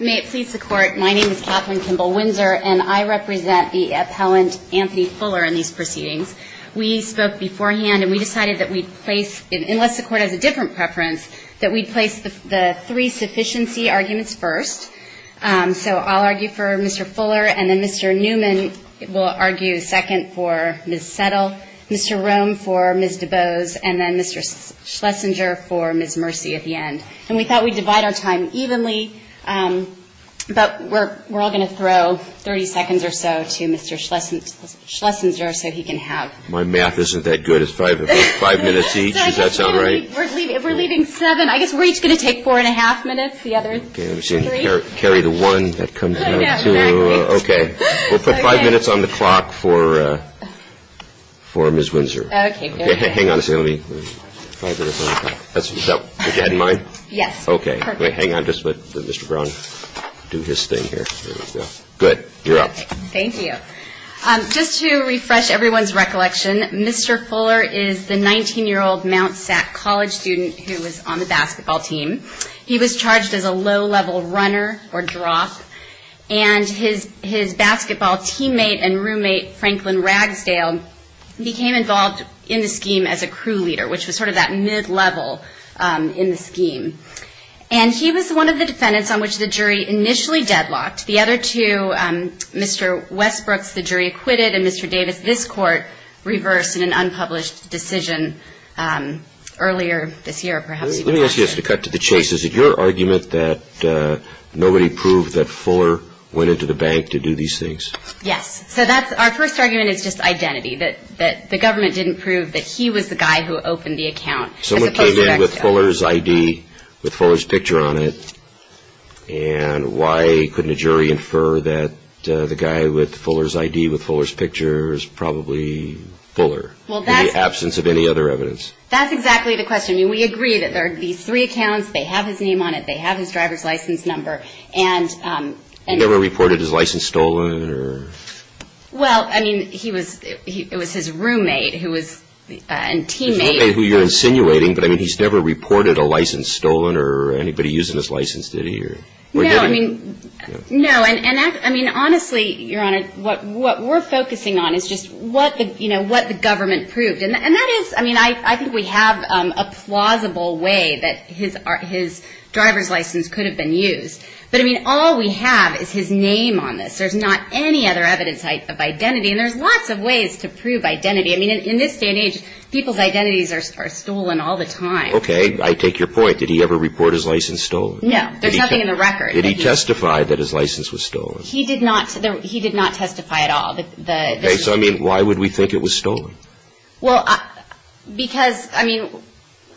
May it please the Court, my name is Kathleen Kimball Windsor, and I represent the appellant Anthony Fuller in these proceedings. We spoke beforehand, and we decided that we'd place – unless the Court has a different preference – that we'd place the three sufficiency arguments first. So I'll argue for Mr. Fuller, and then Mr. Newman will argue second for Mr. Schlesinger. And we thought we'd divide our time evenly, but we're all going to throw 30 seconds or so to Mr. Schlesinger so he can have… My math isn't that good. It's five minutes each, does that sound right? If we're leaving seven, I guess we're each going to take four and a half minutes, the others three. Carry the one, that comes down to – okay. We'll put five minutes on the clock for Ms. Windsor. Okay, good. Hang on a second, let me – five minutes on the clock. Is that what you had in mind? Yes, perfect. Okay, hang on, just let Mr. Brown do his thing here. Good, you're up. Thank you. Just to refresh everyone's recollection, Mr. Fuller is the 19-year-old Mt. SAC college student who was on the basketball team. He was charged as a low-level runner, or drop, and his basketball teammate and roommate, Franklin Ragsdale, became involved in the scheme as a crew leader, which was sort of that mid-level in the scheme. And he was one of the defendants on which the jury initially deadlocked. The other two, Mr. Westbrooks, the jury acquitted, and Mr. Davis, this court reversed in an unpublished decision earlier this year, perhaps even last year. Let me ask you this to cut to the chase. Is it your argument that nobody proved that Fuller went into the bank to do these things? Yes. So that's – our first argument is just identity, that the government didn't prove that he was the guy who opened the account as opposed to Ragsdale. Someone came in with Fuller's ID, with Fuller's picture on it, and why couldn't a jury infer that the guy with Fuller's ID, with Fuller's picture, is probably Fuller, in the absence of any other evidence? That's exactly the question. I mean, we agree that there are these three accounts, they have his name on it, they have his driver's license number, and – He never reported his license stolen or – Well, I mean, he was – it was his roommate who was – and teammate – His roommate, who you're insinuating, but I mean, he's never reported a license stolen or anybody using his license, did he, or did he? No, I mean – no, and I mean, honestly, Your Honor, what we're focusing on is just what the government proved, and that is – I mean, I think we have a plausible way that his driver's license could have been used, but I mean, all we have is his name on this. There's not any other evidence of identity, and there's lots of ways to prove identity. I mean, in this day and age, people's identities are stolen all the time. Okay, I take your point. Did he ever report his license stolen? No, there's nothing in the record. Did he testify that his license was stolen? He did not – he did not testify at all, the – Okay, so I mean, why would we think it was stolen? Well, because – I mean,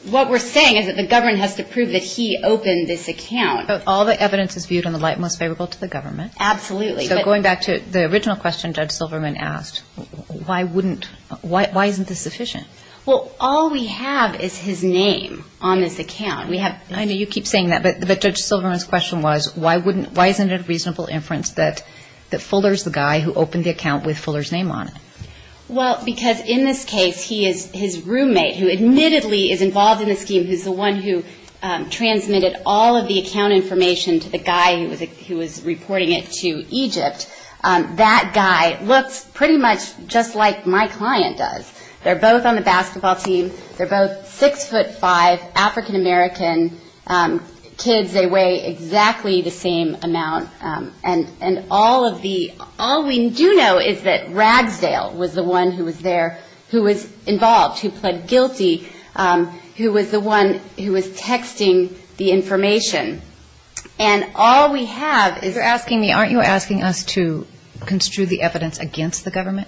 what we're saying is that the government has to prove that he opened this account. All the evidence is viewed in the light most favorable to the government. Absolutely, but – So going back to the original question Judge Silverman asked, why wouldn't – why isn't this sufficient? Well, all we have is his name on this account. We have – I know you keep saying that, but Judge Silverman's question was, why wouldn't – why isn't that Fuller's the guy who opened the account with Fuller's name on it? Well, because in this case, he is – his roommate, who admittedly is involved in this scheme, who's the one who transmitted all of the account information to the guy who was reporting it to Egypt, that guy looks pretty much just like my client does. They're both on the basketball team. They're both 6'5", African-American kids. They weigh exactly the same amount. And all of the – all we do know is that Ragsdale was the one who was there, who was involved, who pled guilty, who was the one who was texting the information. And all we have is – You're asking me – aren't you asking us to construe the evidence against the government?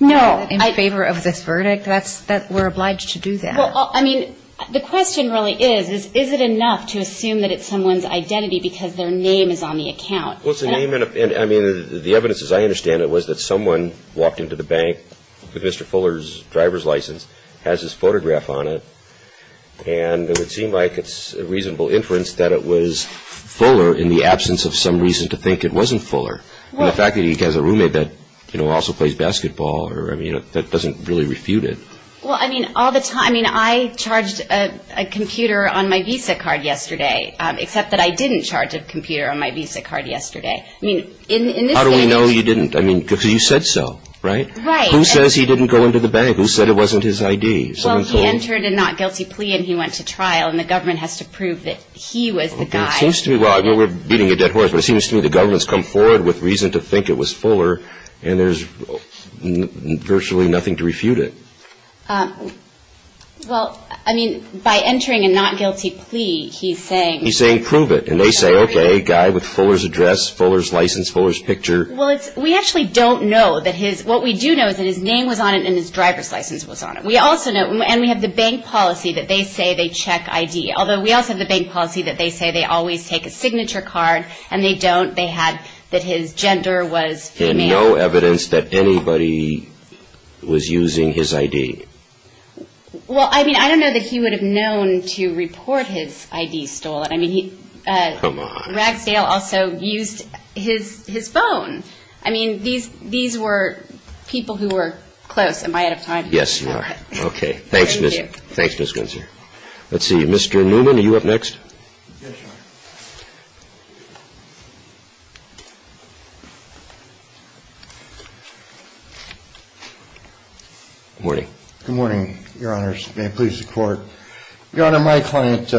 No. In favor of this verdict? That's – we're obliged to do that. Well, I mean, the question really is, is it enough to assume that it's someone's identity because their name is on the account? Well, it's a name and – I mean, the evidence, as I understand it, was that someone walked into the bank with Mr. Fuller's driver's license, has his photograph on it, and it would seem like it's a reasonable inference that it was Fuller in the absence of some reason to think it wasn't Fuller. Well – And the fact that he has a roommate that, you know, also plays basketball or – I mean, that doesn't really refute it. Well, I mean, all the time – I mean, I charged a computer on my visa card yesterday, except that I didn't charge a computer on my visa card yesterday. I mean, in this case – How do we know you didn't? I mean, because you said so, right? Right. Who says he didn't go into the bank? Who said it wasn't his ID? Someone told you? Well, he entered a not guilty plea and he went to trial, and the government has to prove that he was the guy. Well, it seems to me – well, I mean, we're beating a dead horse, but it seems to me the government's come forward with reason to think it was Fuller, and there's virtually nothing to refute it. Well, I mean, by entering a not guilty plea, he's saying – He's saying prove it, and they say, okay, guy with Fuller's address, Fuller's license, Fuller's picture – Well, it's – we actually don't know that his – what we do know is that his name was on it and his driver's license was on it. We also know – and we have the bank policy that they say they check ID, although we also have the bank policy that they say they always take a signature card, and they don't. They had that his gender was female. And no evidence that anybody was using his ID? Well, I mean, I don't know that he would have known to report his ID stolen. I mean, he – Come on. Ragsdale also used his phone. I mean, these were people who were close. Am I out of time? Yes, you are. Okay. Thanks, Ms. – Thank you. Thanks, Ms. Gunzer. Yes, Your Honor. Good morning. Good morning, Your Honors. May it please the Court. Your Honor, my client,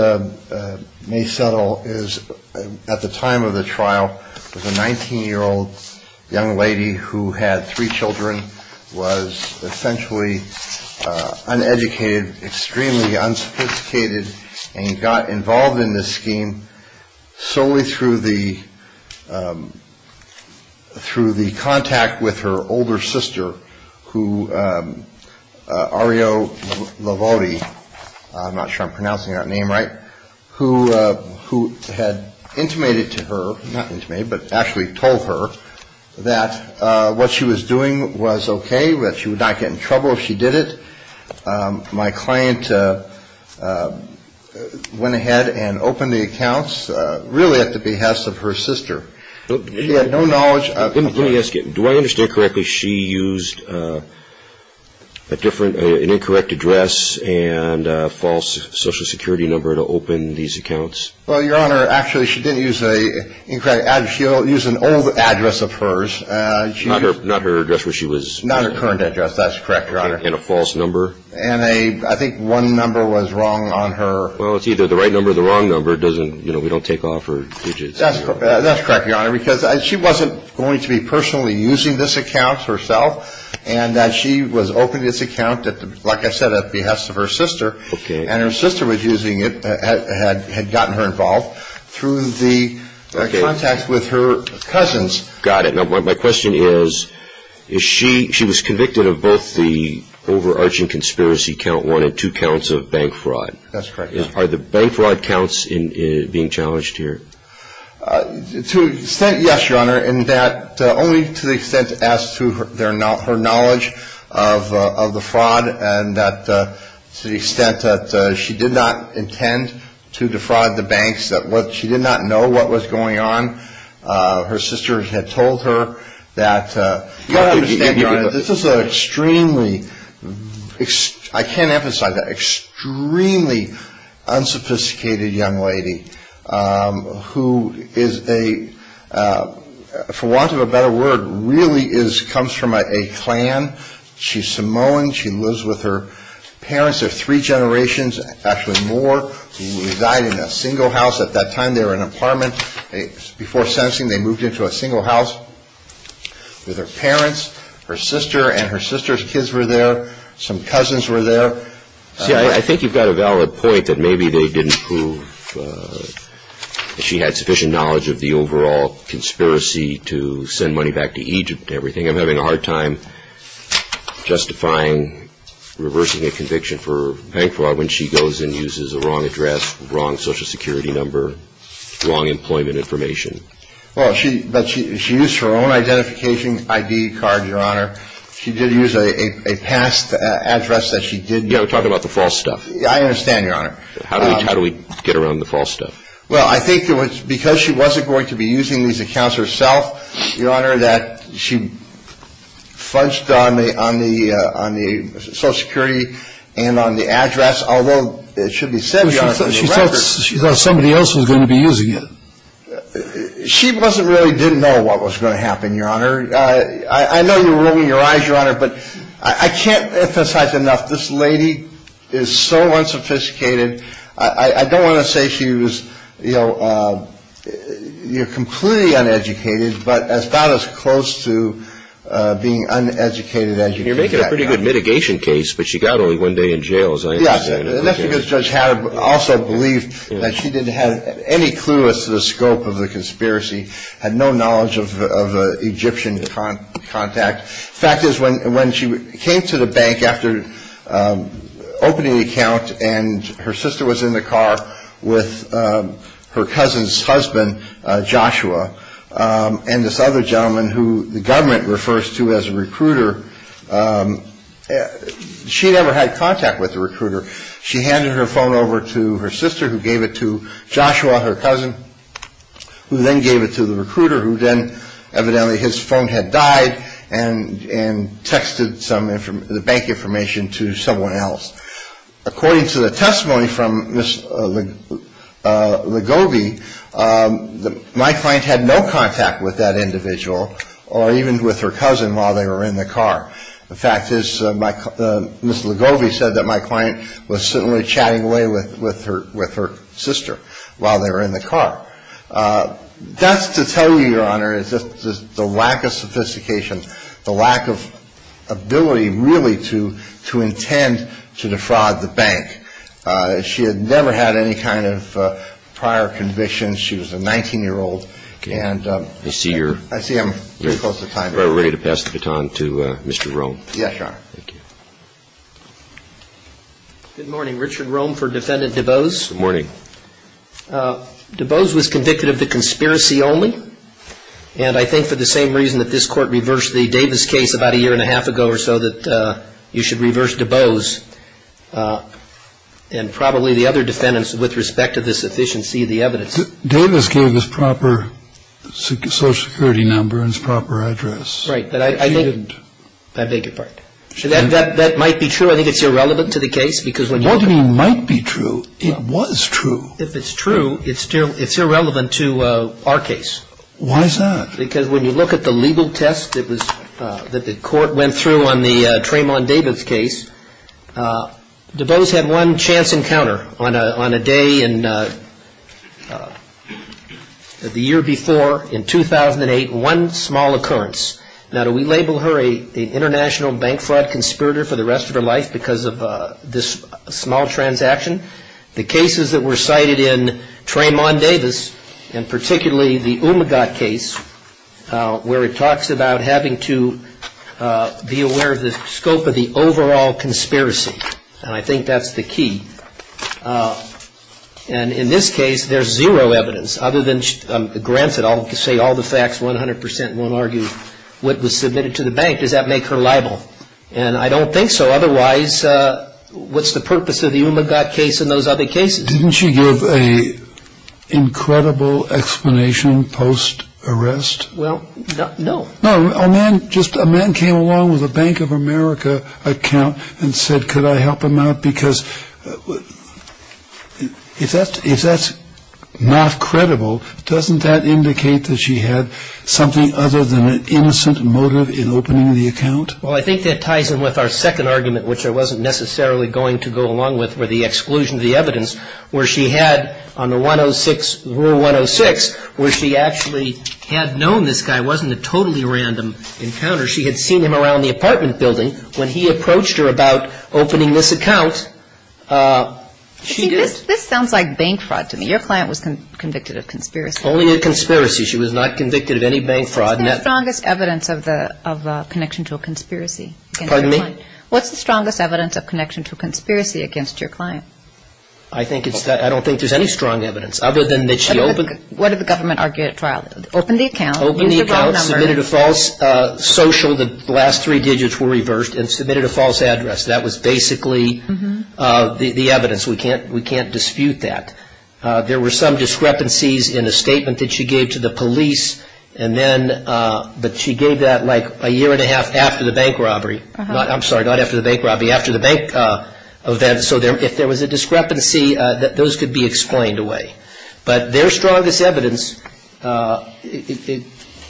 May Settle, is – at the time of the trial, was a 19-year-old young lady who had three children, was essentially uneducated, extremely unsophisticated, and got involved in this scheme. And she was a solely through the – through the contact with her older sister, who – Ario Lavodi, I'm not sure I'm pronouncing that name right, who had intimated to her – not intimated, but actually told her that what she was doing was okay, that she would not get in trouble if she did it. My client went ahead and opened the accounts really at the behest of her sister. She had no knowledge of – Let me ask you, do I understand correctly she used a different – an incorrect address and a false Social Security number to open these accounts? Well, Your Honor, actually she didn't use an incorrect address. She used an old address of hers. Not her address where she was – Not her current address. That's correct, Your Honor. And a false number? And a – I think one number was wrong on her – Well, it's either the right number or the wrong number. It doesn't – you know, we don't take off her widgets. That's correct, Your Honor, because she wasn't going to be personally using this account herself, and that she was opening this account at the – like I said, at the behest of her sister. Okay. And her sister was using it – had gotten her involved through the contacts with her cousins. Got it. Now, my question is, is she – she was convicted of both the overarching conspiracy count one and two counts of bank fraud. That's correct, Your Honor. Are the bank fraud counts being challenged here? To an extent, yes, Your Honor, in that only to the extent as to her knowledge of the fraud and that – to the extent that she did not intend to defraud the banks, that she did not know what was going on. Her sister had told her that – You've got to understand, Your Honor, this is an extremely – I can't emphasize that – extremely unsophisticated young lady who is a – for want of a better word, really is – comes from a clan. She's Samoan. She lives with her parents. They're three in a single house. At that time, they were an apartment. Before sentencing, they moved into a single house with her parents. Her sister and her sister's kids were there. Some cousins were there. See, I think you've got a valid point that maybe they didn't prove that she had sufficient knowledge of the overall conspiracy to send money back to Egypt and everything. I'm having a hard time justifying reversing a conviction for bank fraud. Well, she – but she used her own identification ID card, Your Honor. She did use a past address that she did – Yeah, we're talking about the false stuff. I understand, Your Honor. How do we – how do we get around the false stuff? Well, I think there was – because she wasn't going to be using these accounts herself, Your Honor, that she fudged on the – on the – on the address, although it should be said, Your Honor – She thought somebody else was going to be using it. She wasn't really – didn't know what was going to happen, Your Honor. I know you're rolling your eyes, Your Honor, but I can't emphasize enough. This lady is so unsophisticated. I don't want to say she was – you know, you're completely uneducated, but about as close to being uneducated as you can get. I mean, you're making a pretty good mitigation case, but she got only one day in jail, as I understand it. Yes, and that's because Judge Haddam also believed that she didn't have any clue as to the scope of the conspiracy, had no knowledge of Egyptian contact. The fact is, when she came to the bank after opening the account and her sister was in the car with her cousin's husband, Joshua, and this other recruiter, she never had contact with the recruiter. She handed her phone over to her sister, who gave it to Joshua, her cousin, who then gave it to the recruiter, who then – evidently, his phone had died and texted some – the bank information to someone else. According to the testimony from Ms. Legobi, my client had no contact with that individual or even with her cousin while they were in the car. The fact is, Ms. Legobi said that my client was certainly chatting away with her sister while they were in the car. That's to tell you, Your Honor, it's just the lack of sophistication, the lack of ability really to intend to defraud the bank. She had never had any kind of prior convictions. She was a 19-year-old. And – I see you're – I see I'm very close to time. We're ready to pass the baton to Mr. Rome. Yes, Your Honor. Good morning. Richard Rome for Defendant DuBose. Good morning. DuBose was convicted of the conspiracy only, and I think for the same reason that this Court reversed the Davis case about a year and a half ago or so, that you should reverse DuBose and probably the other defendants with respect to the sufficiency of the evidence. Davis gave his proper Social Security number and his proper address. Right, but I think – He didn't. I beg your pardon. That might be true. I think it's irrelevant to the case because when you look at – What do you mean might be true? It was true. If it's true, it's irrelevant to our case. Why is that? Because when you look at the legal test that the Court went through on the Tremont Davis case, DuBose had one chance encounter on a day in – the year before, in 2008, one small occurrence. Now, do we label her an international bank fraud conspirator for the rest of her life because of this small transaction? The cases that were cited in Tremont Davis, and particularly the Umagat case, where it talks about having to be aware of the scope of the overall conspiracy, and I think that's the key. And in this case, there's zero evidence, other than – granted, I'll say all the facts 100% and won't argue what was submitted to the bank. Does that make her liable? And I don't think so. Otherwise, what's the purpose of the Umagat case and those other cases? Didn't she give an incredible explanation post-arrest? Well, no. No, a man just – a man came along with a Bank of America account and said, could I help him out? Because if that's not credible, doesn't that indicate that she had something other than an innocent motive in opening the account? Well, I think that ties in with our second argument, which I wasn't necessarily going to go along with, with the exclusion of the evidence, where she had, on the 106, Rule 106, where she actually had known this guy wasn't a totally random encounter. She had seen him around the apartment building. When he approached her about opening this account, she did. This sounds like bank fraud to me. Your client was convicted of conspiracy. Only a conspiracy. She was not convicted of any bank fraud. What's the strongest evidence of connection to a conspiracy? Pardon me? What's the strongest evidence of connection to a conspiracy against your client? I think it's – I don't think there's any strong evidence, other than that she opened – What did the government argue at trial? Opened the account. Opened the account. Submitted a false social. The last three digits were reversed. And submitted a false address. That was basically the evidence. We can't dispute that. There were some discrepancies in a statement that she gave to the police, and then – but she gave that like a year and a half after the bank robbery. I'm sorry, not after the bank robbery. After the bank event. So if there was a discrepancy, those could be explained away. But their strongest evidence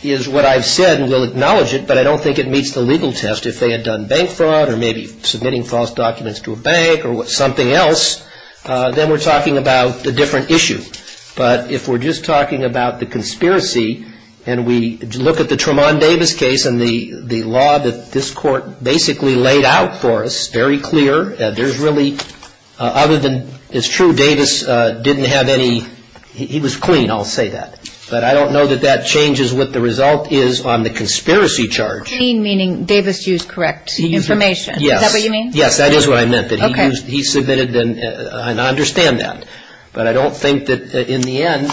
is what I've said, and we'll acknowledge it, but I don't think it meets the legal test. If they had done bank fraud, or maybe submitting false documents to a bank, or something else, then we're talking about a different issue. But if we're just talking about the conspiracy, and we look at the Tremont Davis case and the law that this court basically laid out for us, very clear, there's really – other than it's true Davis didn't have any – he was clean, I'll say that. But I don't know that that changes what the result is on the conspiracy charge. Clean meaning Davis used correct information. Yes. Is that what you mean? Yes, that is what I meant. Okay. He submitted – and I understand that. But I don't think that in the end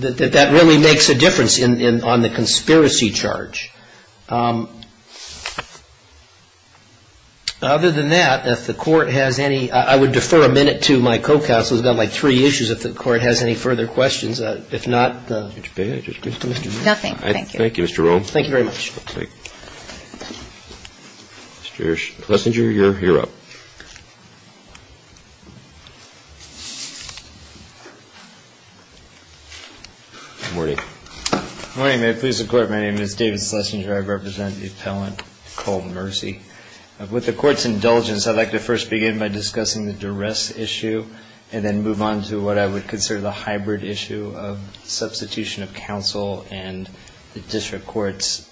that that really makes a difference on the conspiracy charge. Other than that, if the court has any – I would defer a minute to my co-counsel. He's got like three issues. If the court has any further questions. If not – Nothing. Thank you. Thank you, Mr. Rome. Thank you very much. Okay. Mr. Klesinger, you're up. Good morning. Good morning. May it please the Court, my name is David Klesinger. I represent the appellant Cole Mercy. With the Court's indulgence, I'd like to first begin by discussing the duress issue and then move on to what I would consider the hybrid issue of substitution of counsel and the District Court's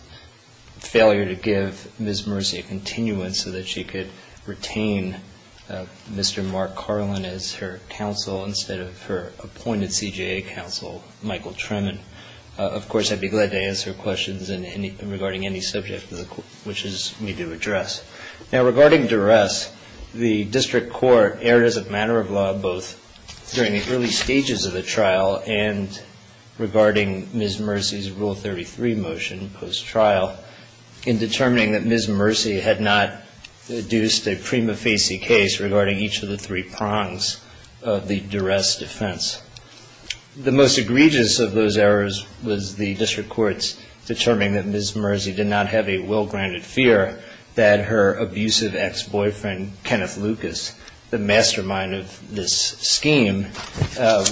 failure to give Ms. Mercy a continuance so that she could retain Mr. Mark Carlin as her counsel instead of her appointed CJA counsel, Michael Tremont. And, of course, I'd be glad to answer questions regarding any subject which we do address. Now, regarding duress, the District Court erred as a matter of law both during the early stages of the trial and regarding Ms. Mercy's Rule 33 motion post-trial in determining that Ms. Mercy had not deduced a prima facie case regarding each of the three prongs of the duress defense. The most egregious of those errors was the District Court's determining that Ms. Mercy did not have a well-granted fear that her abusive ex-boyfriend, Kenneth Lucas, the mastermind of this scheme,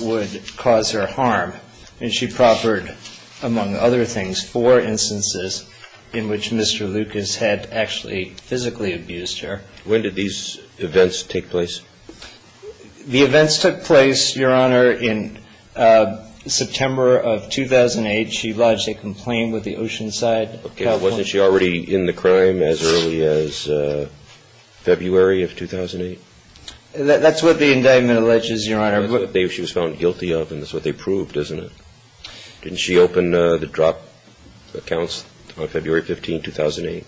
would cause her harm. And she proffered, among other things, four instances in which Mr. Lucas had actually physically abused her. When did these events take place? The events took place, Your Honor, in September of 2008. She lodged a complaint with the Oceanside. Okay. Wasn't she already in the crime as early as February of 2008? That's what the indictment alleges, Your Honor. She was found guilty of, and that's what they proved, isn't it? Didn't she open the drop accounts on February 15, 2008?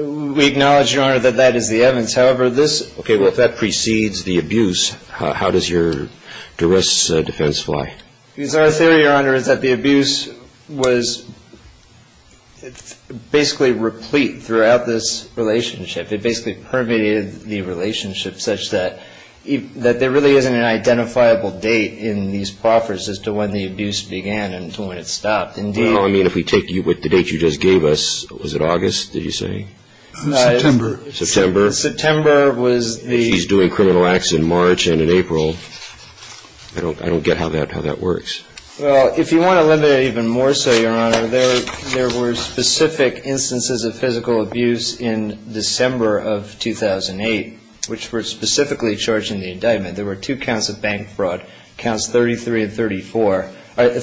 We acknowledge, Your Honor, that that is the evidence. Okay. Well, if that precedes the abuse, how does your duress defense fly? Because our theory, Your Honor, is that the abuse was basically replete throughout this relationship. It basically permeated the relationship such that there really isn't an identifiable date in these proffers as to when the abuse began until when it stopped. Indeed. Well, I mean, if we take the date you just gave us, was it August, did you say? September. September. September was the... She's doing criminal acts in March and in April. I don't get how that works. Well, if you want to limit it even more so, Your Honor, there were specific instances of physical abuse in December of 2008, which were specifically charged in the indictment. There were two counts of bank fraud, counts 34 and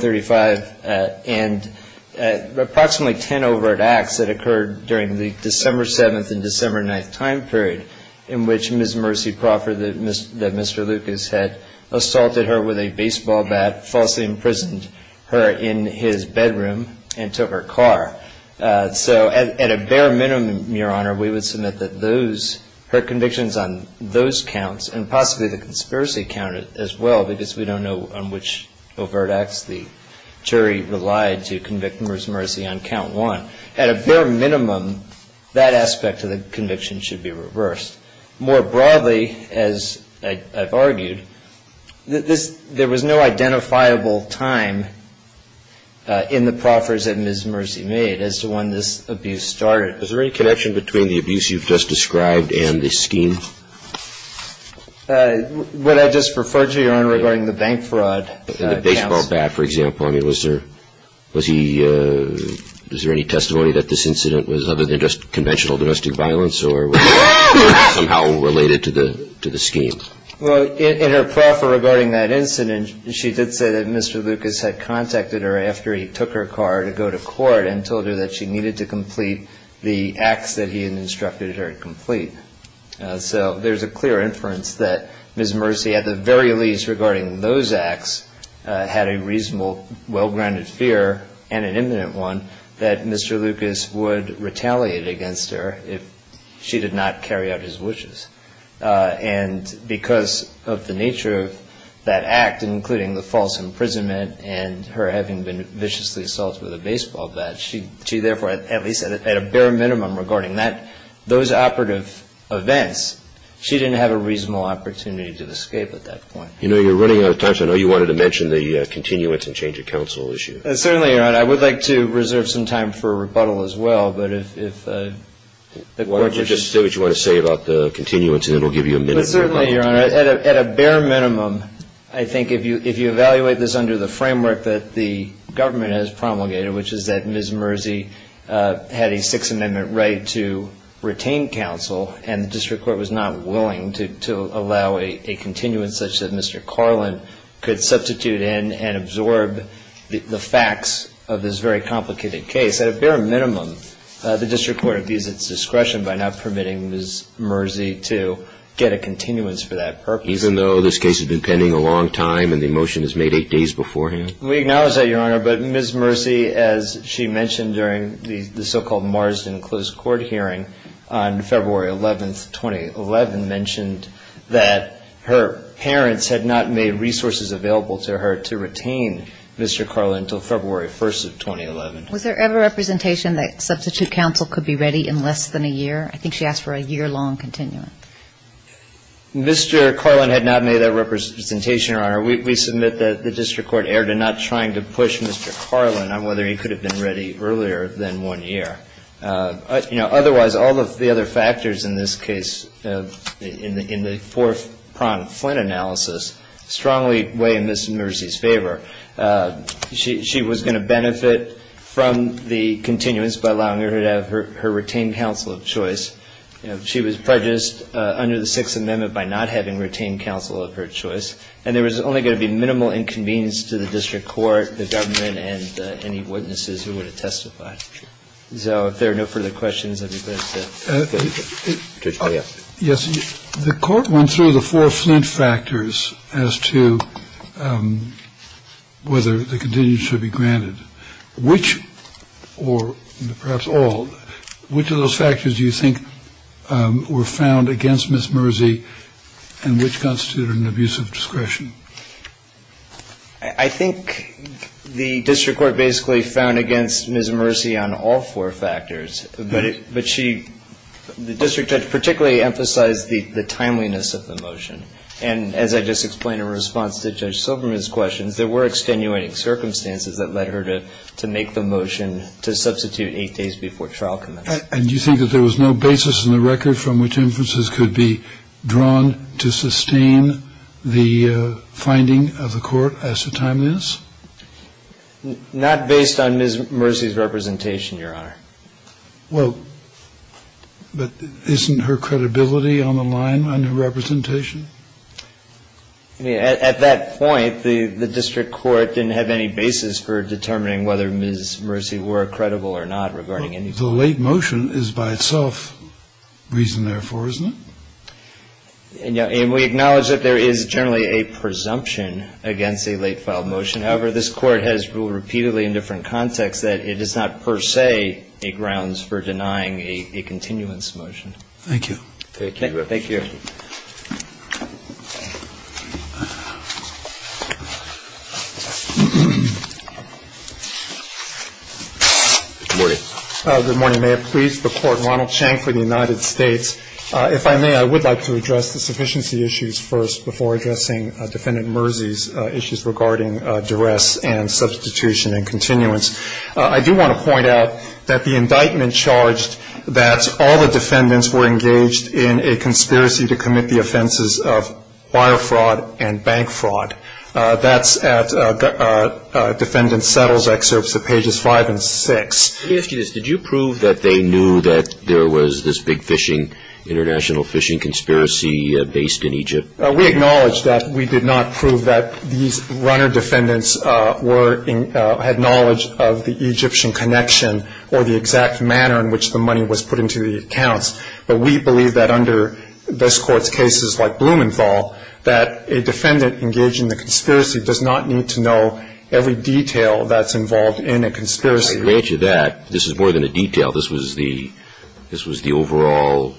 35, and approximately 10 overt acts that occurred during the December 7th and December 9th time period in which Ms. Mercy Proffer, that Mr. Lucas had assaulted her with a baseball bat, falsely imprisoned her in his bedroom, and took her car. So at a bare minimum, Your Honor, we would submit that those, her convictions on those counts, and possibly the conspiracy count as well, because we don't know on which overt acts the jury relied to convict Ms. Mercy on count one. At a bare minimum, that aspect of the conviction should be reversed. More broadly, as I've argued, this, there was no identifiable time in the proffers that Ms. Mercy made as to when this abuse started. Is there any connection between the abuse you've just described and the scheme? Would I just refer to, Your Honor, regarding the bank fraud counts? The baseball bat, for example. I mean, was there, was he, was there any testimony that this incident was other than just conventional domestic violence or was it somehow related to the scheme? Well, in her proffer regarding that incident, she did say that Mr. Lucas had contacted her after he took her car to go to court and told her that she needed to complete the acts that he had instructed her to complete. So there's a clear inference that Ms. Mercy, at the very least regarding those acts, had a reasonable, well-grounded fear and an imminent one that Mr. Lucas would retaliate against her if she did not carry out his wishes. And because of the nature of that act, including the false imprisonment and her having been viciously assaulted with a baseball bat, she therefore, at least at a bare minimum regarding that, those operative events, she didn't have a reasonable opportunity to escape at that point. You know, you're running out of time, so I know you wanted to mention the continuance and change of counsel issue. Certainly, Your Honor. I would like to reserve some time for rebuttal as well, but if the Court would just say what you want to say about the continuance and it will give you a minute. Certainly, Your Honor. At a bare minimum, I think if you evaluate this under the framework that the District Court was not willing to allow a continuance such that Mr. Carlin could substitute in and absorb the facts of this very complicated case, at a bare minimum, the District Court would be at its discretion by not permitting Ms. Mercy to get a continuance for that purpose. Even though this case had been pending a long time and the motion was made eight days beforehand? We acknowledge that, Your Honor, but Ms. Mercy, as she mentioned during the so-called Marsden closed court hearing on February 11th, 2011, mentioned that her parents had not made resources available to her to retain Mr. Carlin until February 1st of 2011. Was there ever representation that substitute counsel could be ready in less than a year? I think she asked for a year-long continuance. Mr. Carlin had not made that representation, Your Honor. We submit that the District Court erred in not trying to push Mr. Carlin on whether he could have been ready earlier than one year. Otherwise, all of the other factors in this case, in the four-pronged Flint analysis, strongly weigh in Ms. Mercy's favor. She was going to benefit from the continuance by allowing her to have her retained counsel of choice. She was prejudiced under the Sixth Amendment by not having retained counsel of her choice. And there was only going to be minimal inconvenience to the District Court, the witnesses who would have testified. So if there are no further questions, I'd be glad to take them. Judge Breyer. Yes. The Court went through the four Flint factors as to whether the continuance should be granted. Which or perhaps all, which of those factors do you think were found against Ms. Mercy and which constituted an abuse of discretion? I think the District Court basically found against Ms. Mercy on all four factors. But she, the District Judge particularly emphasized the timeliness of the motion. And as I just explained in response to Judge Silberman's questions, there were extenuating circumstances that led her to make the motion to substitute eight days before trial commenced. And do you think that there was no basis in the record from which inferences could be drawn to sustain the finding of the Court as to timeliness? Not based on Ms. Mercy's representation, Your Honor. Well, but isn't her credibility on the line under representation? I mean, at that point, the District Court didn't have any basis for determining whether Ms. Mercy were credible or not regarding anything. The late motion is by itself reason therefore, isn't it? And we acknowledge that there is generally a presumption against a late filed motion. However, this Court has ruled repeatedly in different contexts that it is not per se a grounds for denying a continuance motion. Thank you. Thank you. Good morning. Good morning. May it please the Court. Ronald Chang for the United States. If I may, I would like to address the sufficiency issues first before addressing Defendant Mercy's issues regarding duress and substitution and continuance. I do want to point out that the indictment charged that all the defendants were engaged in a consensual case. We acknowledge that we did not prove that these runner defendants had knowledge of the Egyptian connection or the exact manner in which the money was put into the accounts. But we believe that under this indictment, that a defendant engaged in the conspiracy does not need to know every detail that's involved in a conspiracy. By the nature of that, this is more than a detail. This was the overall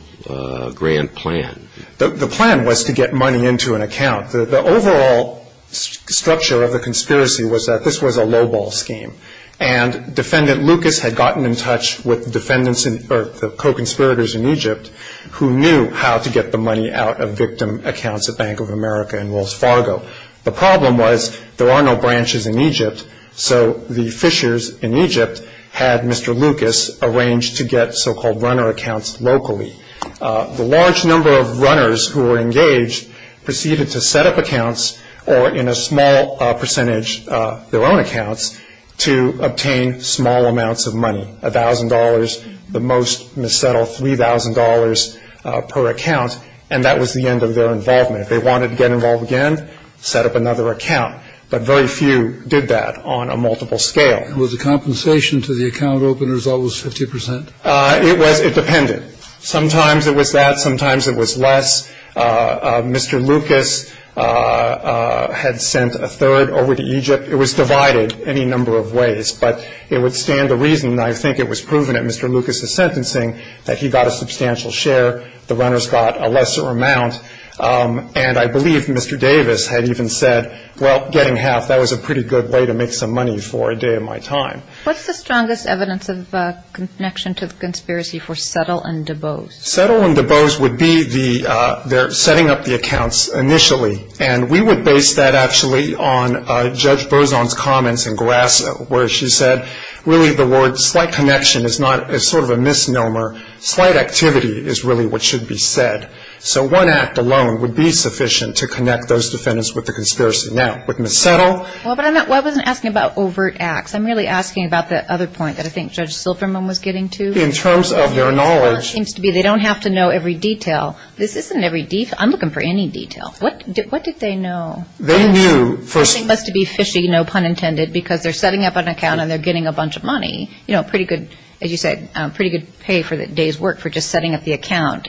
grand plan. The plan was to get money into an account. The overall structure of the conspiracy was that this was a lowball scheme. And Defendant Lucas had gotten in touch with the defendants or the co-conspirators in Egypt who knew how to get the money out of victim accounts at Bank of America and Wells Fargo. The problem was there are no branches in Egypt, so the fishers in Egypt had Mr. Lucas arranged to get so-called runner accounts locally. The large number of runners who were engaged proceeded to set up accounts or, in a small percentage, their own accounts, to obtain small amounts of money, $1,000, the most mis-settled $3,000 per account. And that was the end of their involvement. If they wanted to get involved again, set up another account. But very few did that on a multiple scale. Was the compensation to the account openers always 50 percent? It was. It depended. Sometimes it was that. Sometimes it was less. Mr. Lucas had sent a third over to Egypt. It was divided any number of ways. But it would stand to reason, and I think it was proven at Mr. Lucas' sentencing, that he got a substantial share. The runners got a lesser amount. And I believe Mr. Davis had even said, well, getting half, that was a pretty good way to make some money for a day of my time. What's the strongest evidence of connection to the conspiracy for Settle and DuBose? Settle and DuBose would be their setting up the accounts initially. And we would base that actually on Judge Bozon's comments in Grass where she said, really the word slight connection is sort of a misnomer. Slight activity is really what should be said. So one act alone would be sufficient to connect those defendants with the conspiracy. Now, with Ms. Settle. Well, but I wasn't asking about overt acts. I'm really asking about the other point that I think Judge Silverman was getting to. In terms of their knowledge. They don't have to know every detail. This isn't every detail. I'm looking for any detail. What did they know? They knew. Everything must be fishy, no pun intended, because they're setting up an account and they're getting a bunch of money. You know, pretty good, as you said, pretty good pay for a day's work for just setting up the account.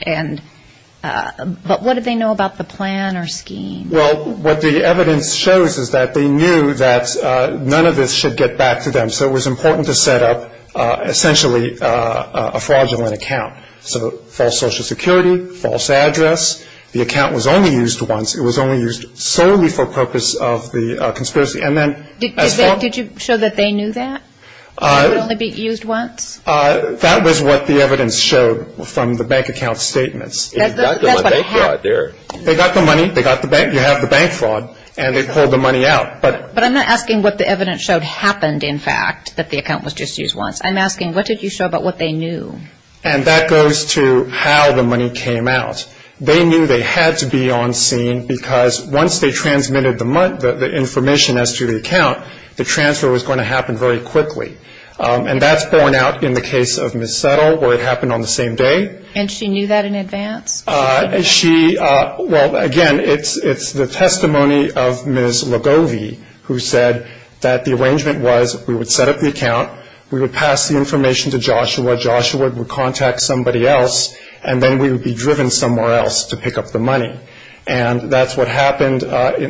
But what did they know about the plan or scheme? Well, what the evidence shows is that they knew that none of this should get back to them. So it was important to set up essentially a fraudulent account. So false Social Security, false address. The account was only used once. It was only used solely for purpose of the conspiracy. And then as far. Did you show that they knew that it would only be used once? That was what the evidence showed from the bank account statements. They got the money. They got the bank. You have the bank fraud. And they pulled the money out. But I'm not asking what the evidence showed happened, in fact, that the account was just used once. I'm asking what did you show about what they knew? And that goes to how the money came out. They knew they had to be on scene because once they transmitted the information as to the account, the transfer was going to happen very quickly. And that's borne out in the case of Ms. Settle where it happened on the same day. And she knew that in advance? She, well, again, it's the testimony of Ms. Ligovi who said that the arrangement was we would set up the account. We would pass the information to Joshua. Joshua would contact somebody else. And then we would be driven somewhere else to pick up the money. And that's what happened.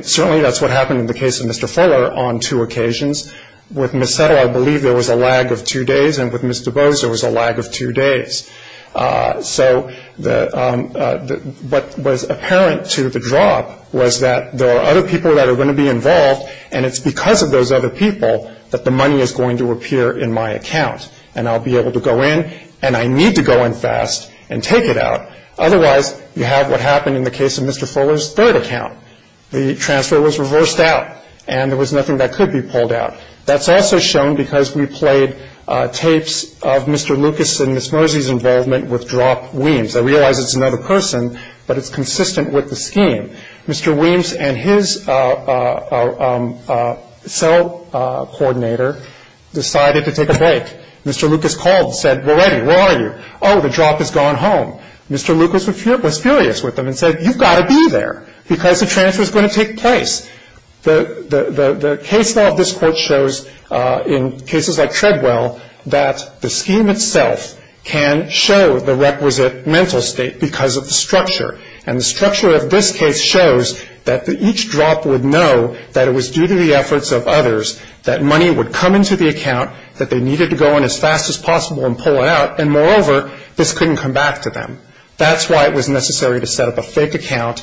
Certainly that's what happened in the case of Mr. Fuller on two occasions. With Ms. Settle, I believe there was a lag of two days. And with Mr. Bose, there was a lag of two days. So what was apparent to the drop was that there are other people that are going to be involved, and it's because of those other people that the money is going to appear in my account. And I'll be able to go in, and I need to go in fast and take it out. Otherwise, you have what happened in the case of Mr. Fuller's third account. The transfer was reversed out, and there was nothing that could be pulled out. That's also shown because we played tapes of Mr. Lucas and Ms. Mosey's involvement with Drop Weems. I realize it's another person, but it's consistent with the scheme. Mr. Weems and his cell coordinator decided to take a break. Mr. Lucas called and said, well, Eddie, where are you? Oh, the drop has gone home. Mr. Lucas was furious with them and said, you've got to be there because the transfer is going to take place. The case law of this court shows in cases like Treadwell that the scheme itself can show the requisite mental state because of the structure. And the structure of this case shows that each drop would know that it was due to the efforts of others, that money would come into the account, that they needed to go in as fast as possible and pull it out, and moreover, this couldn't come back to them. That's why it was necessary to set up a fake account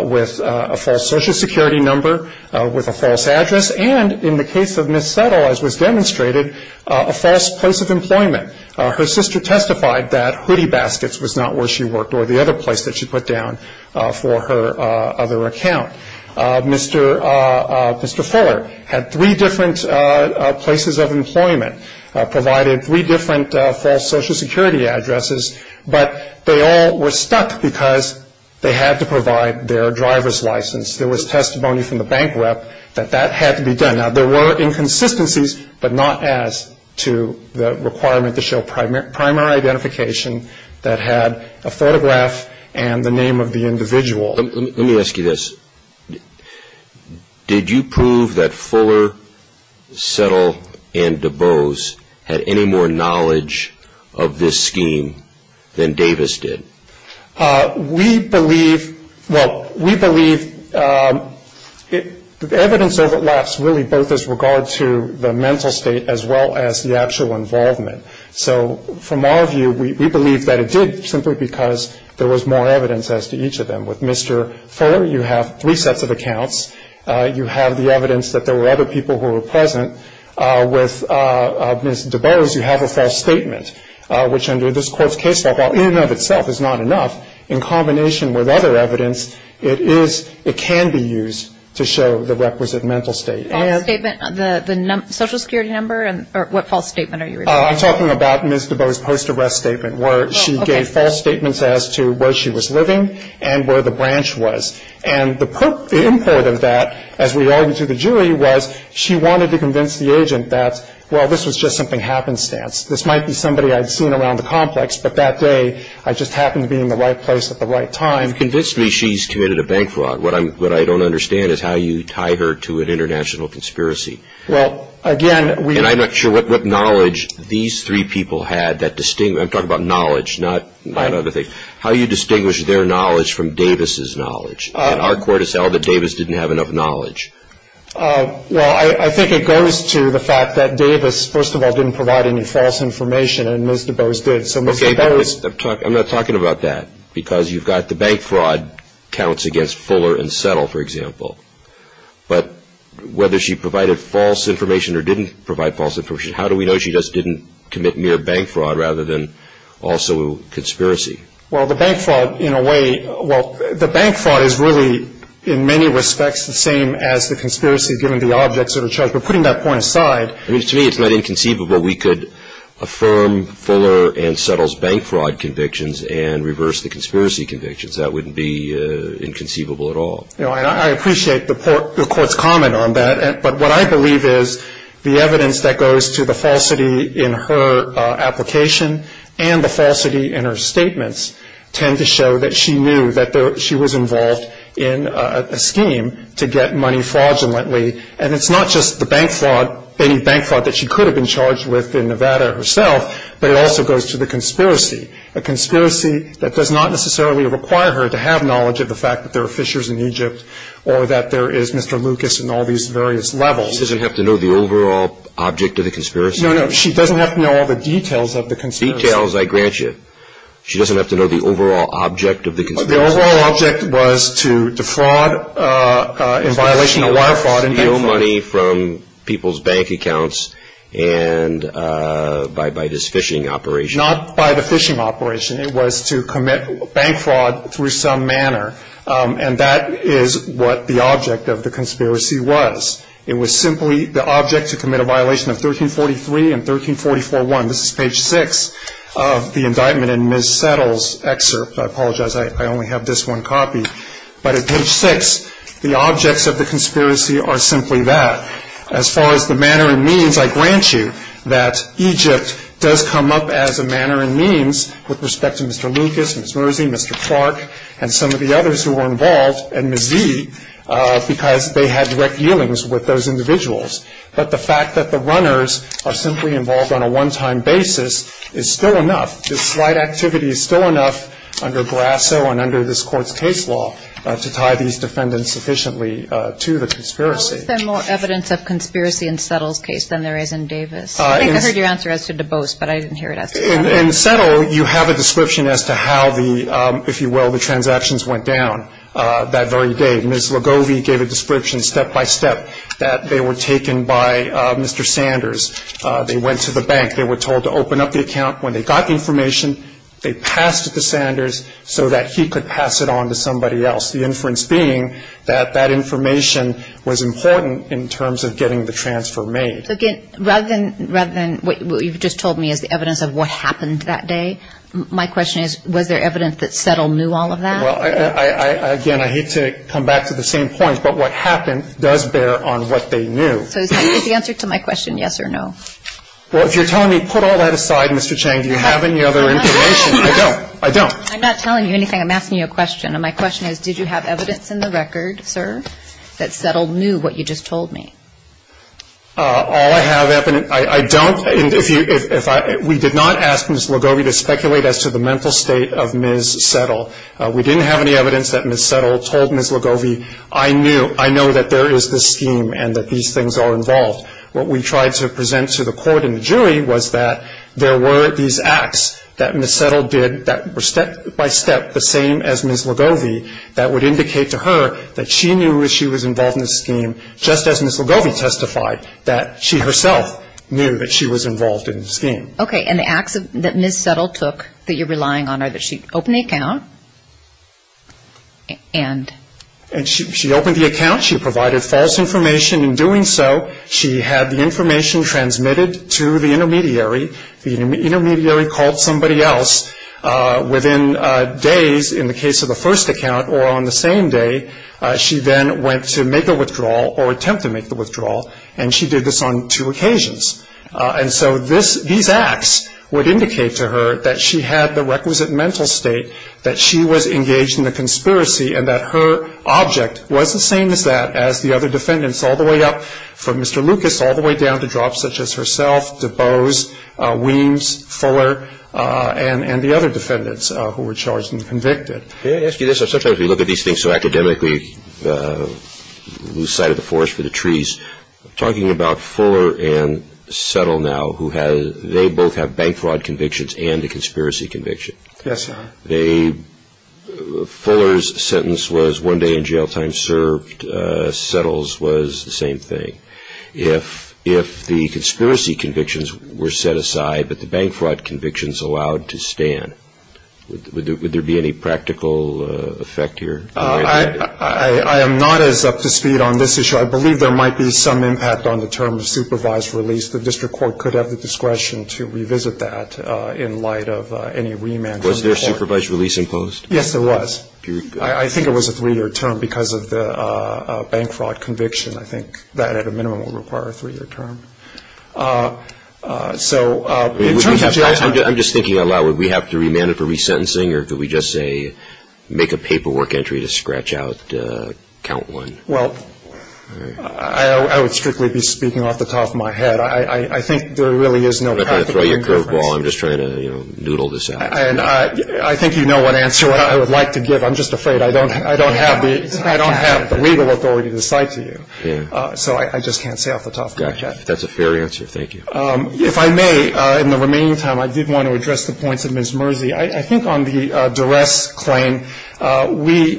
with a false Social Security number, with a false address, and in the case of Ms. Settle, as was demonstrated, a false place of employment. Her sister testified that Hoodie Baskets was not where she worked or the other place that she put down for her other account. Mr. Fuller had three different places of employment, provided three different false Social Security addresses, but they all were stuck because they had to provide their driver's license. There was testimony from the bank rep that that had to be done. There were inconsistencies, but not as to the requirement to show primary identification that had a photograph and the name of the individual. Let me ask you this. Did you prove that Fuller, Settle, and DuBose had any more knowledge of this scheme than Davis did? We believe the evidence overlaps really both as regard to the mental state as well as the actual involvement. So from our view, we believe that it did simply because there was more evidence as to each of them. With Mr. Fuller, you have three sets of accounts. You have the evidence that there were other people who were present. With Ms. DuBose, you have a false statement, which under this Court's case law, in and of itself, is not enough. In combination with other evidence, it can be used to show the requisite mental state. False statement, the Social Security number? Or what false statement are you referring to? I'm talking about Ms. DuBose's post-arrest statement where she gave false statements as to where she was living and where the branch was. And the import of that, as we argued to the jury, was she wanted to convince the agent that, well, this was just something happenstance. This might be somebody I'd seen around the complex, but that day, I just happened to be in the right place at the right time. You've convinced me she's committed a bank fraud. What I don't understand is how you tie her to an international conspiracy. Well, again, we – And I'm not sure what knowledge these three people had that – I'm talking about knowledge, not other things. How do you distinguish their knowledge from Davis' knowledge? Our court has held that Davis didn't have enough knowledge. Well, I think it goes to the fact that Davis, first of all, didn't provide any false information, and Ms. DuBose did. So Ms. DuBose – Okay, but I'm not talking about that, because you've got the bank fraud counts against Fuller and Settle, for example. But whether she provided false information or didn't provide false information, how do we know she just didn't commit mere bank fraud rather than also conspiracy? Well, the bank fraud, in a way – well, the bank fraud is really, in many respects, the same as the conspiracy given the objects that are charged. But putting that point aside – I mean, to me, it's not inconceivable we could affirm Fuller and Settle's bank fraud convictions and reverse the conspiracy convictions. That wouldn't be inconceivable at all. I appreciate the court's comment on that. But what I believe is the evidence that goes to the falsity in her application and the falsity in her statements tend to show that she knew that she was involved in a scheme to get money fraudulently. And it's not just the bank fraud, any bank fraud that she could have been charged with in Nevada herself, but it also goes to the conspiracy, a conspiracy that does not necessarily require her to have knowledge of the fact that there are fishers in Egypt or that there is Mr. Lucas and all these various levels. She doesn't have to know the overall object of the conspiracy? No, no. She doesn't have to know all the details of the conspiracy. Details, I grant you. She doesn't have to know the overall object of the conspiracy? The overall object was to defraud in violation of wire fraud and bank fraud. To steal money from people's bank accounts by this phishing operation? Not by the phishing operation. It was to commit bank fraud through some manner. And that is what the object of the conspiracy was. It was simply the object to commit a violation of 1343 and 1344-1. This is page 6 of the indictment in Ms. Settle's excerpt. I apologize, I only have this one copy. But at page 6, the objects of the conspiracy are simply that. As far as the manner and means, I grant you that Egypt does come up as a manner and means with respect to Mr. Lucas, Ms. Mosey, Mr. Clark, and some of the others who were involved, and Ms. Zee, because they had direct dealings with those individuals. But the fact that the runners are simply involved on a one-time basis is still enough. This slight activity is still enough under Brasso and under this Court's case law to tie these defendants sufficiently to the conspiracy. How is there more evidence of conspiracy in Settle's case than there is in Davis? I think I heard your answer as to DuBose, but I didn't hear it as to DuBose. In Settle, you have a description as to how the, if you will, the transactions went down that very day. Ms. Ligovi gave a description step by step that they were taken by Mr. Sanders. They went to the bank. They were told to open up the account. When they got the information, they passed it to Sanders so that he could pass it on to somebody else, the inference being that that information was important in terms of getting the transfer made. So again, rather than what you've just told me is the evidence of what happened that day, my question is was there evidence that Settle knew all of that? Well, again, I hate to come back to the same point, but what happened does bear on what they knew. So is the answer to my question yes or no? Well, if you're telling me put all that aside, Mr. Chang, do you have any other information? I don't. I don't. I'm not telling you anything. I'm asking you a question. And my question is did you have evidence in the record, sir, that Settle knew what you just told me? All I have, I don't. We did not ask Ms. Ligovi to speculate as to the mental state of Ms. Settle. We didn't have any evidence that Ms. Settle told Ms. Ligovi, I know that there is this scheme and that these things are involved. What we tried to present to the court and the jury was that there were these acts that Ms. Settle did that were step by step the same as Ms. Ligovi that would indicate to her that she knew as she was involved in the scheme just as Ms. Ligovi testified, that she herself knew that she was involved in the scheme. Okay. And the acts that Ms. Settle took that you're relying on are that she opened the account and? And she opened the account. She provided false information. In doing so, she had the information transmitted to the intermediary. The intermediary called somebody else within days in the case of the first account or on the same day she then went to make a withdrawal or attempt to make the withdrawal, and she did this on two occasions. And so these acts would indicate to her that she had the requisite mental state, that she was engaged in the conspiracy, and that her object was the same as that as the other defendants all the way up from Mr. Lucas all the way down to drops such as herself, DuBose, Weems, Fuller, and the other defendants who were charged and convicted. May I ask you this? Sometimes we look at these things so academically, lose sight of the forest for the trees. Talking about Fuller and Settle now, they both have bank fraud convictions and a conspiracy conviction. Yes, sir. Fuller's sentence was one day in jail time served. Settle's was the same thing. If the conspiracy convictions were set aside but the bank fraud convictions allowed to stand, would there be any practical effect here? I am not as up to speed on this issue. I believe there might be some impact on the term of supervised release. The district court could have the discretion to revisit that in light of any remand. Was there supervised release imposed? Yes, there was. I think it was a three-year term because of the bank fraud conviction. I think that at a minimum would require a three-year term. I'm just thinking out loud. Would we have to remand it for resentencing, or could we just say make a paperwork entry to scratch out count one? Well, I would strictly be speaking off the top of my head. I think there really is no practical difference. I'm not going to throw you a curveball. I'm just trying to noodle this out. I think you know what answer I would like to give. I'm just afraid I don't have the legal authority to cite to you. So I just can't say off the top of my head. Gotcha. That's a fair answer. Thank you. If I may, in the remaining time, I did want to address the points of Ms. Mersey. I think on the duress claim, we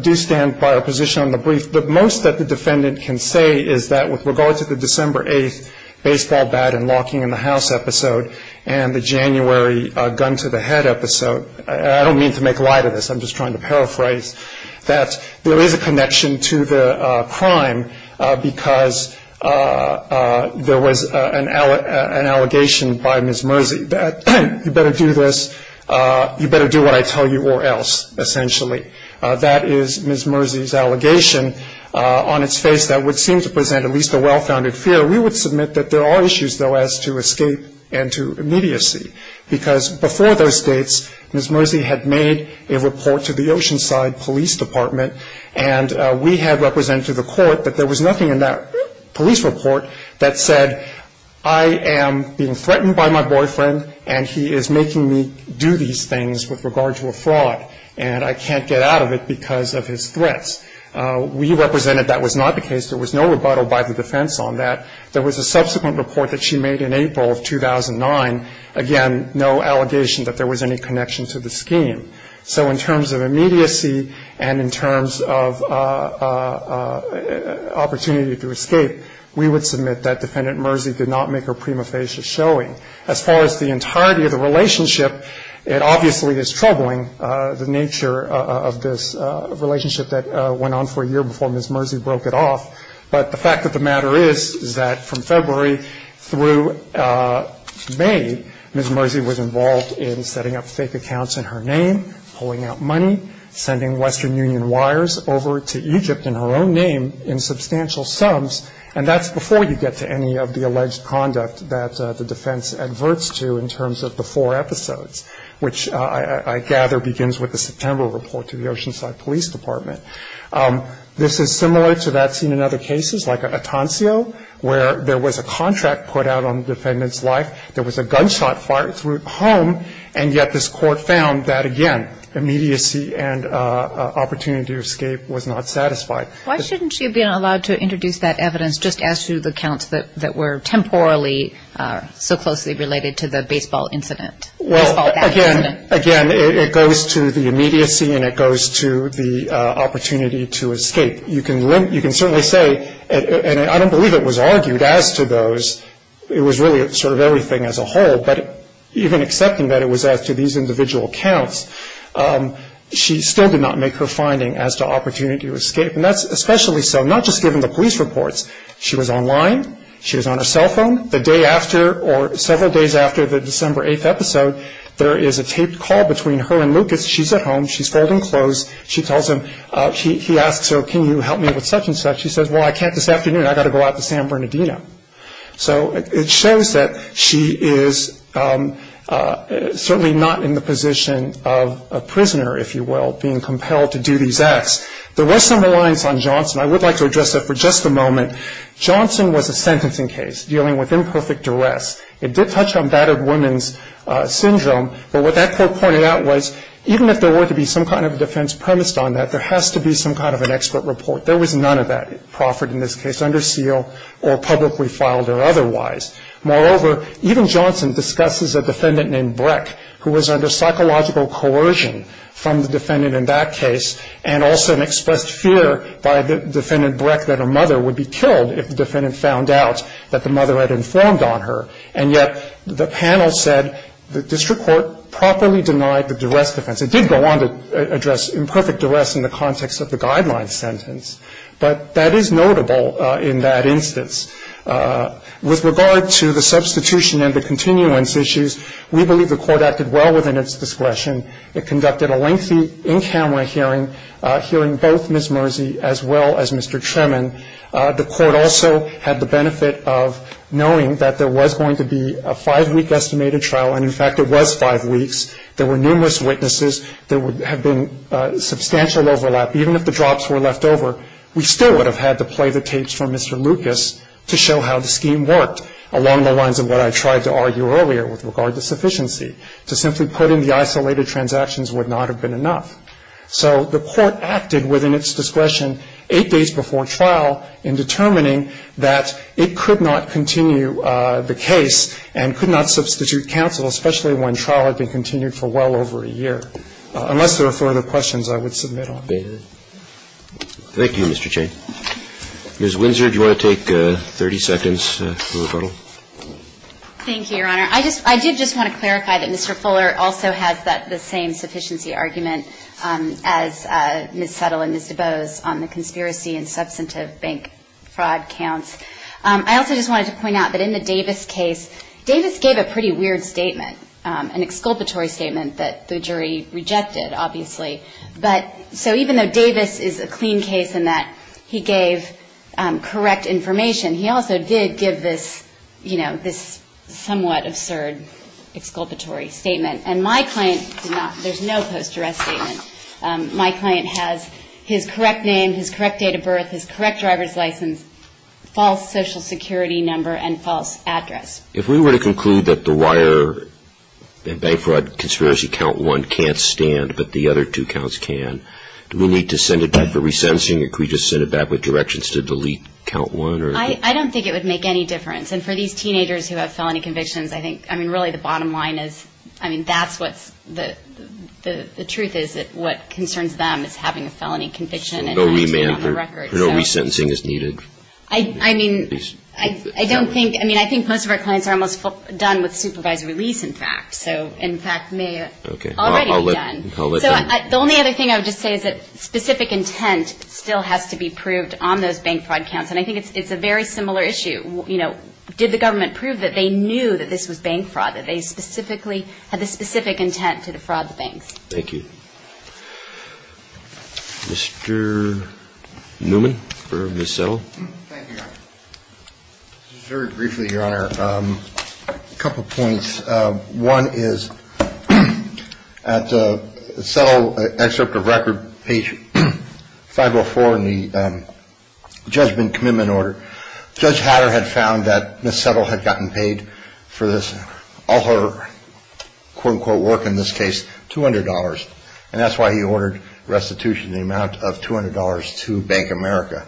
do stand by our position on the brief. The most that the defendant can say is that with regard to the December 8th baseball bat and locking in the house episode and the January gun to the head episode, I don't mean to make light of this, I'm just trying to paraphrase, that there is a connection to the crime because there was an allegation by Ms. Mersey that you better do this, you better do what I tell you or else, essentially. That is Ms. Mersey's allegation. On its face, that would seem to present at least a well-founded fear. We would submit that there are issues, though, as to escape and to immediacy, because before those dates, Ms. Mersey had made a report to the Oceanside Police Department and we had represented to the court that there was nothing in that police report that said, I am being threatened by my boyfriend and he is making me do these things with regard to a fraud and I can't get out of it because of his threats. We represented that was not the case. There was no rebuttal by the defense on that. There was a subsequent report that she made in April of 2009, again, no allegation that there was any connection to the scheme. So in terms of immediacy and in terms of opportunity to escape, we would submit that Defendant Mersey did not make her prima facie showing. As far as the entirety of the relationship, it obviously is troubling, the nature of this relationship that went on for a year before Ms. Mersey broke it off. But the fact of the matter is, is that from February through May, Ms. Mersey was involved in setting up fake accounts in her name, pulling out money, sending Western Union wires over to Egypt in her own name in substantial sums, and that's before you get to any of the alleged conduct that the defense adverts to in terms of the four episodes, which I gather begins with the September report to the Oceanside Police Department. This is similar to that seen in other cases, like Atoncio, where there was a contract put out on the defendant's life. There was a gunshot fired through a home, and yet this Court found that, again, immediacy and opportunity to escape was not satisfied. Why shouldn't she have been allowed to introduce that evidence just as to the accounts that were temporally so closely related to the baseball incident, baseball bat incident? Again, it goes to the immediacy, and it goes to the opportunity to escape. You can certainly say, and I don't believe it was argued as to those, it was really sort of everything as a whole, but even accepting that it was as to these individual accounts, she still did not make her finding as to opportunity to escape, and that's especially so not just given the police reports. She was online. She was on her cell phone. The day after, or several days after the December 8th episode, there is a taped call between her and Lucas. She's at home. She's folding clothes. She tells him, he asks her, can you help me with such and such? She says, well, I can't this afternoon. I've got to go out to San Bernardino. So it shows that she is certainly not in the position of a prisoner, if you will, being compelled to do these acts. There was some reliance on Johnson. I would like to address that for just a moment. Johnson was a sentencing case dealing with imperfect duress. It did touch on battered women's syndrome, but what that court pointed out was even if there were to be some kind of defense premised on that, there has to be some kind of an expert report. There was none of that proffered in this case under seal or publicly filed or otherwise. Moreover, even Johnson discusses a defendant named Breck, who was under psychological coercion from the defendant in that case, and also expressed fear by the defendant Breck that her mother would be killed if the defendant found out that the mother had informed on her. And yet the panel said the district court properly denied the duress defense. It did go on to address imperfect duress in the context of the guidelines sentence, but that is notable in that instance. With regard to the substitution and the continuance issues, we believe the court acted well within its discretion. It conducted a lengthy in-camera hearing, hearing both Ms. Mersey as well as Mr. Tremin. The court also had the benefit of knowing that there was going to be a five-week estimated trial, and, in fact, it was five weeks. There were numerous witnesses. There would have been substantial overlap. Even if the drops were left over, we still would have had to play the tapes from Mr. Lucas to show how the scheme worked along the lines of what I tried to argue earlier with regard to sufficiency, to simply put in the isolated transactions would not have been enough. So the court acted within its discretion eight days before trial in determining that it could not continue the case and could not substitute counsel, especially when trial had been continued for well over a year. Unless there are further questions, I would submit on that. Roberts. Thank you, Mr. Chain. Ms. Windsor, do you want to take 30 seconds for rebuttal? Thank you, Your Honor. I did just want to clarify that Mr. Fuller also has the same sufficiency argument as Ms. Settle and Ms. DeBose on the conspiracy and substantive bank fraud counts. I also just wanted to point out that in the Davis case, Davis gave a pretty weird statement, an exculpatory statement that the jury rejected, obviously. So even though Davis is a clean case in that he gave correct information, he also did give this somewhat absurd exculpatory statement. And my client did not. There's no post-duress statement. My client has his correct name, his correct date of birth, his correct driver's license, false social security number, and false address. If we were to conclude that the wire and bank fraud conspiracy count one can't stand but the other two counts can, do we need to send it back for resensing or can we just send it back with directions to delete count one? I don't think it would make any difference. And for these teenagers who have felony convictions, I think, I mean, really the bottom line is, I mean, that's what's the truth is that what concerns them is having a felony conviction. No remand or no resentencing is needed. I mean, I don't think, I mean, I think most of our clients are almost done with supervised release, in fact. So, in fact, may already be done. So the only other thing I would just say is that specific intent still has to be proved on those bank fraud counts. And I think it's a very similar issue. You know, did the government prove that they knew that this was bank fraud, that they specifically had the specific intent to defraud the banks? Thank you. Mr. Newman for Ms. Settle. Thank you, Your Honor. Just very briefly, Your Honor, a couple points. One is, at Settle excerpt of record, page 504 in the judgment commitment order, Judge Hatter had found that Ms. Settle had gotten paid for this, all her, quote, unquote, work, in this case, $200. And that's why he ordered restitution in the amount of $200 to Bank America.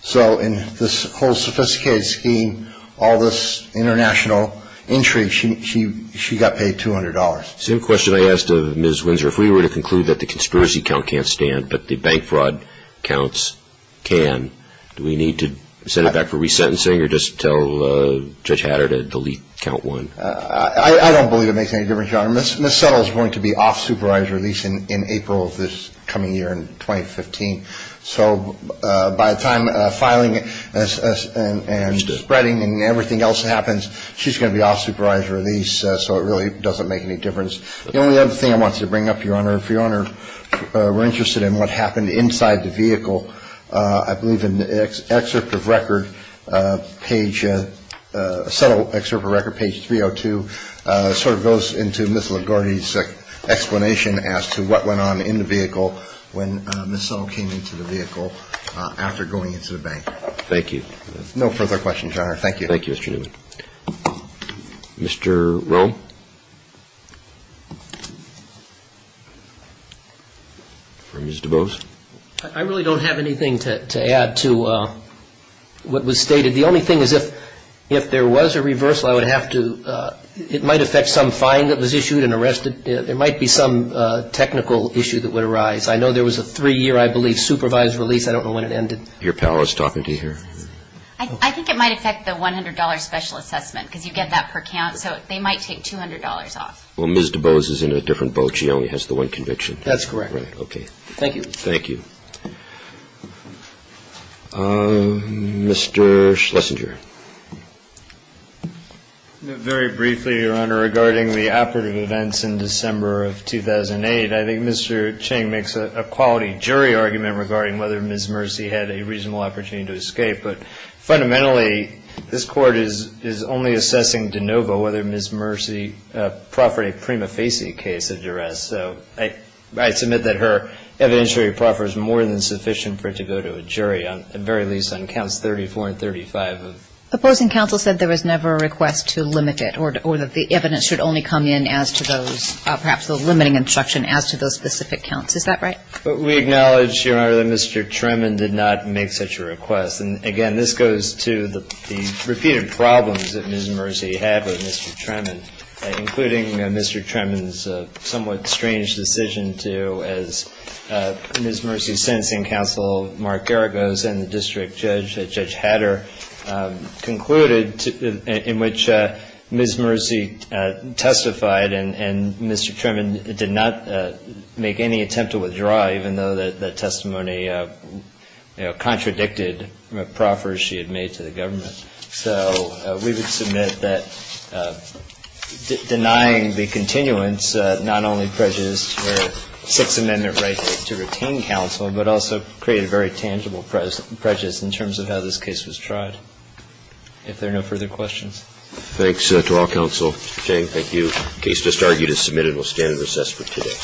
So in this whole sophisticated scheme, all this international intrigue, she got paid $200. Same question I asked of Ms. Windsor. If we were to conclude that the conspiracy count can't stand but the bank fraud counts can, do we need to send it back for resentencing or just tell Judge Hatter to delete count one? I don't believe it makes any difference, Your Honor. Ms. Settle is going to be off supervised release in April of this coming year, in 2015. So by the time filing and spreading and everything else happens, she's going to be off supervised release. So it really doesn't make any difference. The only other thing I wanted to bring up, Your Honor, if Your Honor were interested in what happened inside the vehicle, I believe in the excerpt of record, page, Settle excerpt of record, page 302, sort of goes into Ms. LaGuardia's explanation as to what went on in the vehicle when Ms. Settle came into the vehicle after going into the bank. Thank you. No further questions, Your Honor. Thank you. Thank you, Mr. Newman. Mr. Rome? Or Ms. DuBose? I really don't have anything to add to what was stated. The only thing is if there was a reversal, I would have to, it might affect some fine that was issued and arrested. There might be some technical issue that would arise. I know there was a three-year, I believe, supervised release. I don't know when it ended. Your pal is talking to you here. I think it might affect the $100 special assessment because you get that per count. So they might take $200 off. Well, Ms. DuBose is in a different boat. She only has the one conviction. That's correct. Okay. Thank you. Thank you. Mr. Schlesinger? Very briefly, Your Honor, regarding the operative events in December of 2008, I think Mr. Ching makes a quality jury argument regarding whether Ms. Mercy had a reasonable opportunity to escape. But fundamentally, this Court is only assessing de novo whether Ms. Mercy proffered a prima facie case of duress. So I submit that her evidentiary proffer is more than sufficient for it to go to a jury, at the very least on counts 34 and 35. Opposing counsel said there was never a request to limit it or that the evidence should only come in as to those, perhaps the limiting instruction as to those specific counts. Is that right? We acknowledge, Your Honor, that Mr. Tremmen did not make such a request. And again, this goes to the repeated problems that Ms. Mercy had with Mr. Tremmen, including Mr. Tremmen's somewhat strange decision to, as Ms. Mercy's sentencing counsel, Mark Geragos, and the district judge, Judge Hatter, concluded, in which Ms. Mercy testified and Mr. Tremmen did not make any attempt to withdraw, even though the testimony contradicted proffers she had made to the government. So we would submit that denying the continuance not only prejudiced her Sixth Amendment right to retain counsel, but also created very tangible prejudice in terms of how this case was tried. If there are no further questions. Thanks to all counsel. Mr. King, thank you. The case just argued is submitted and will stand in recess for today.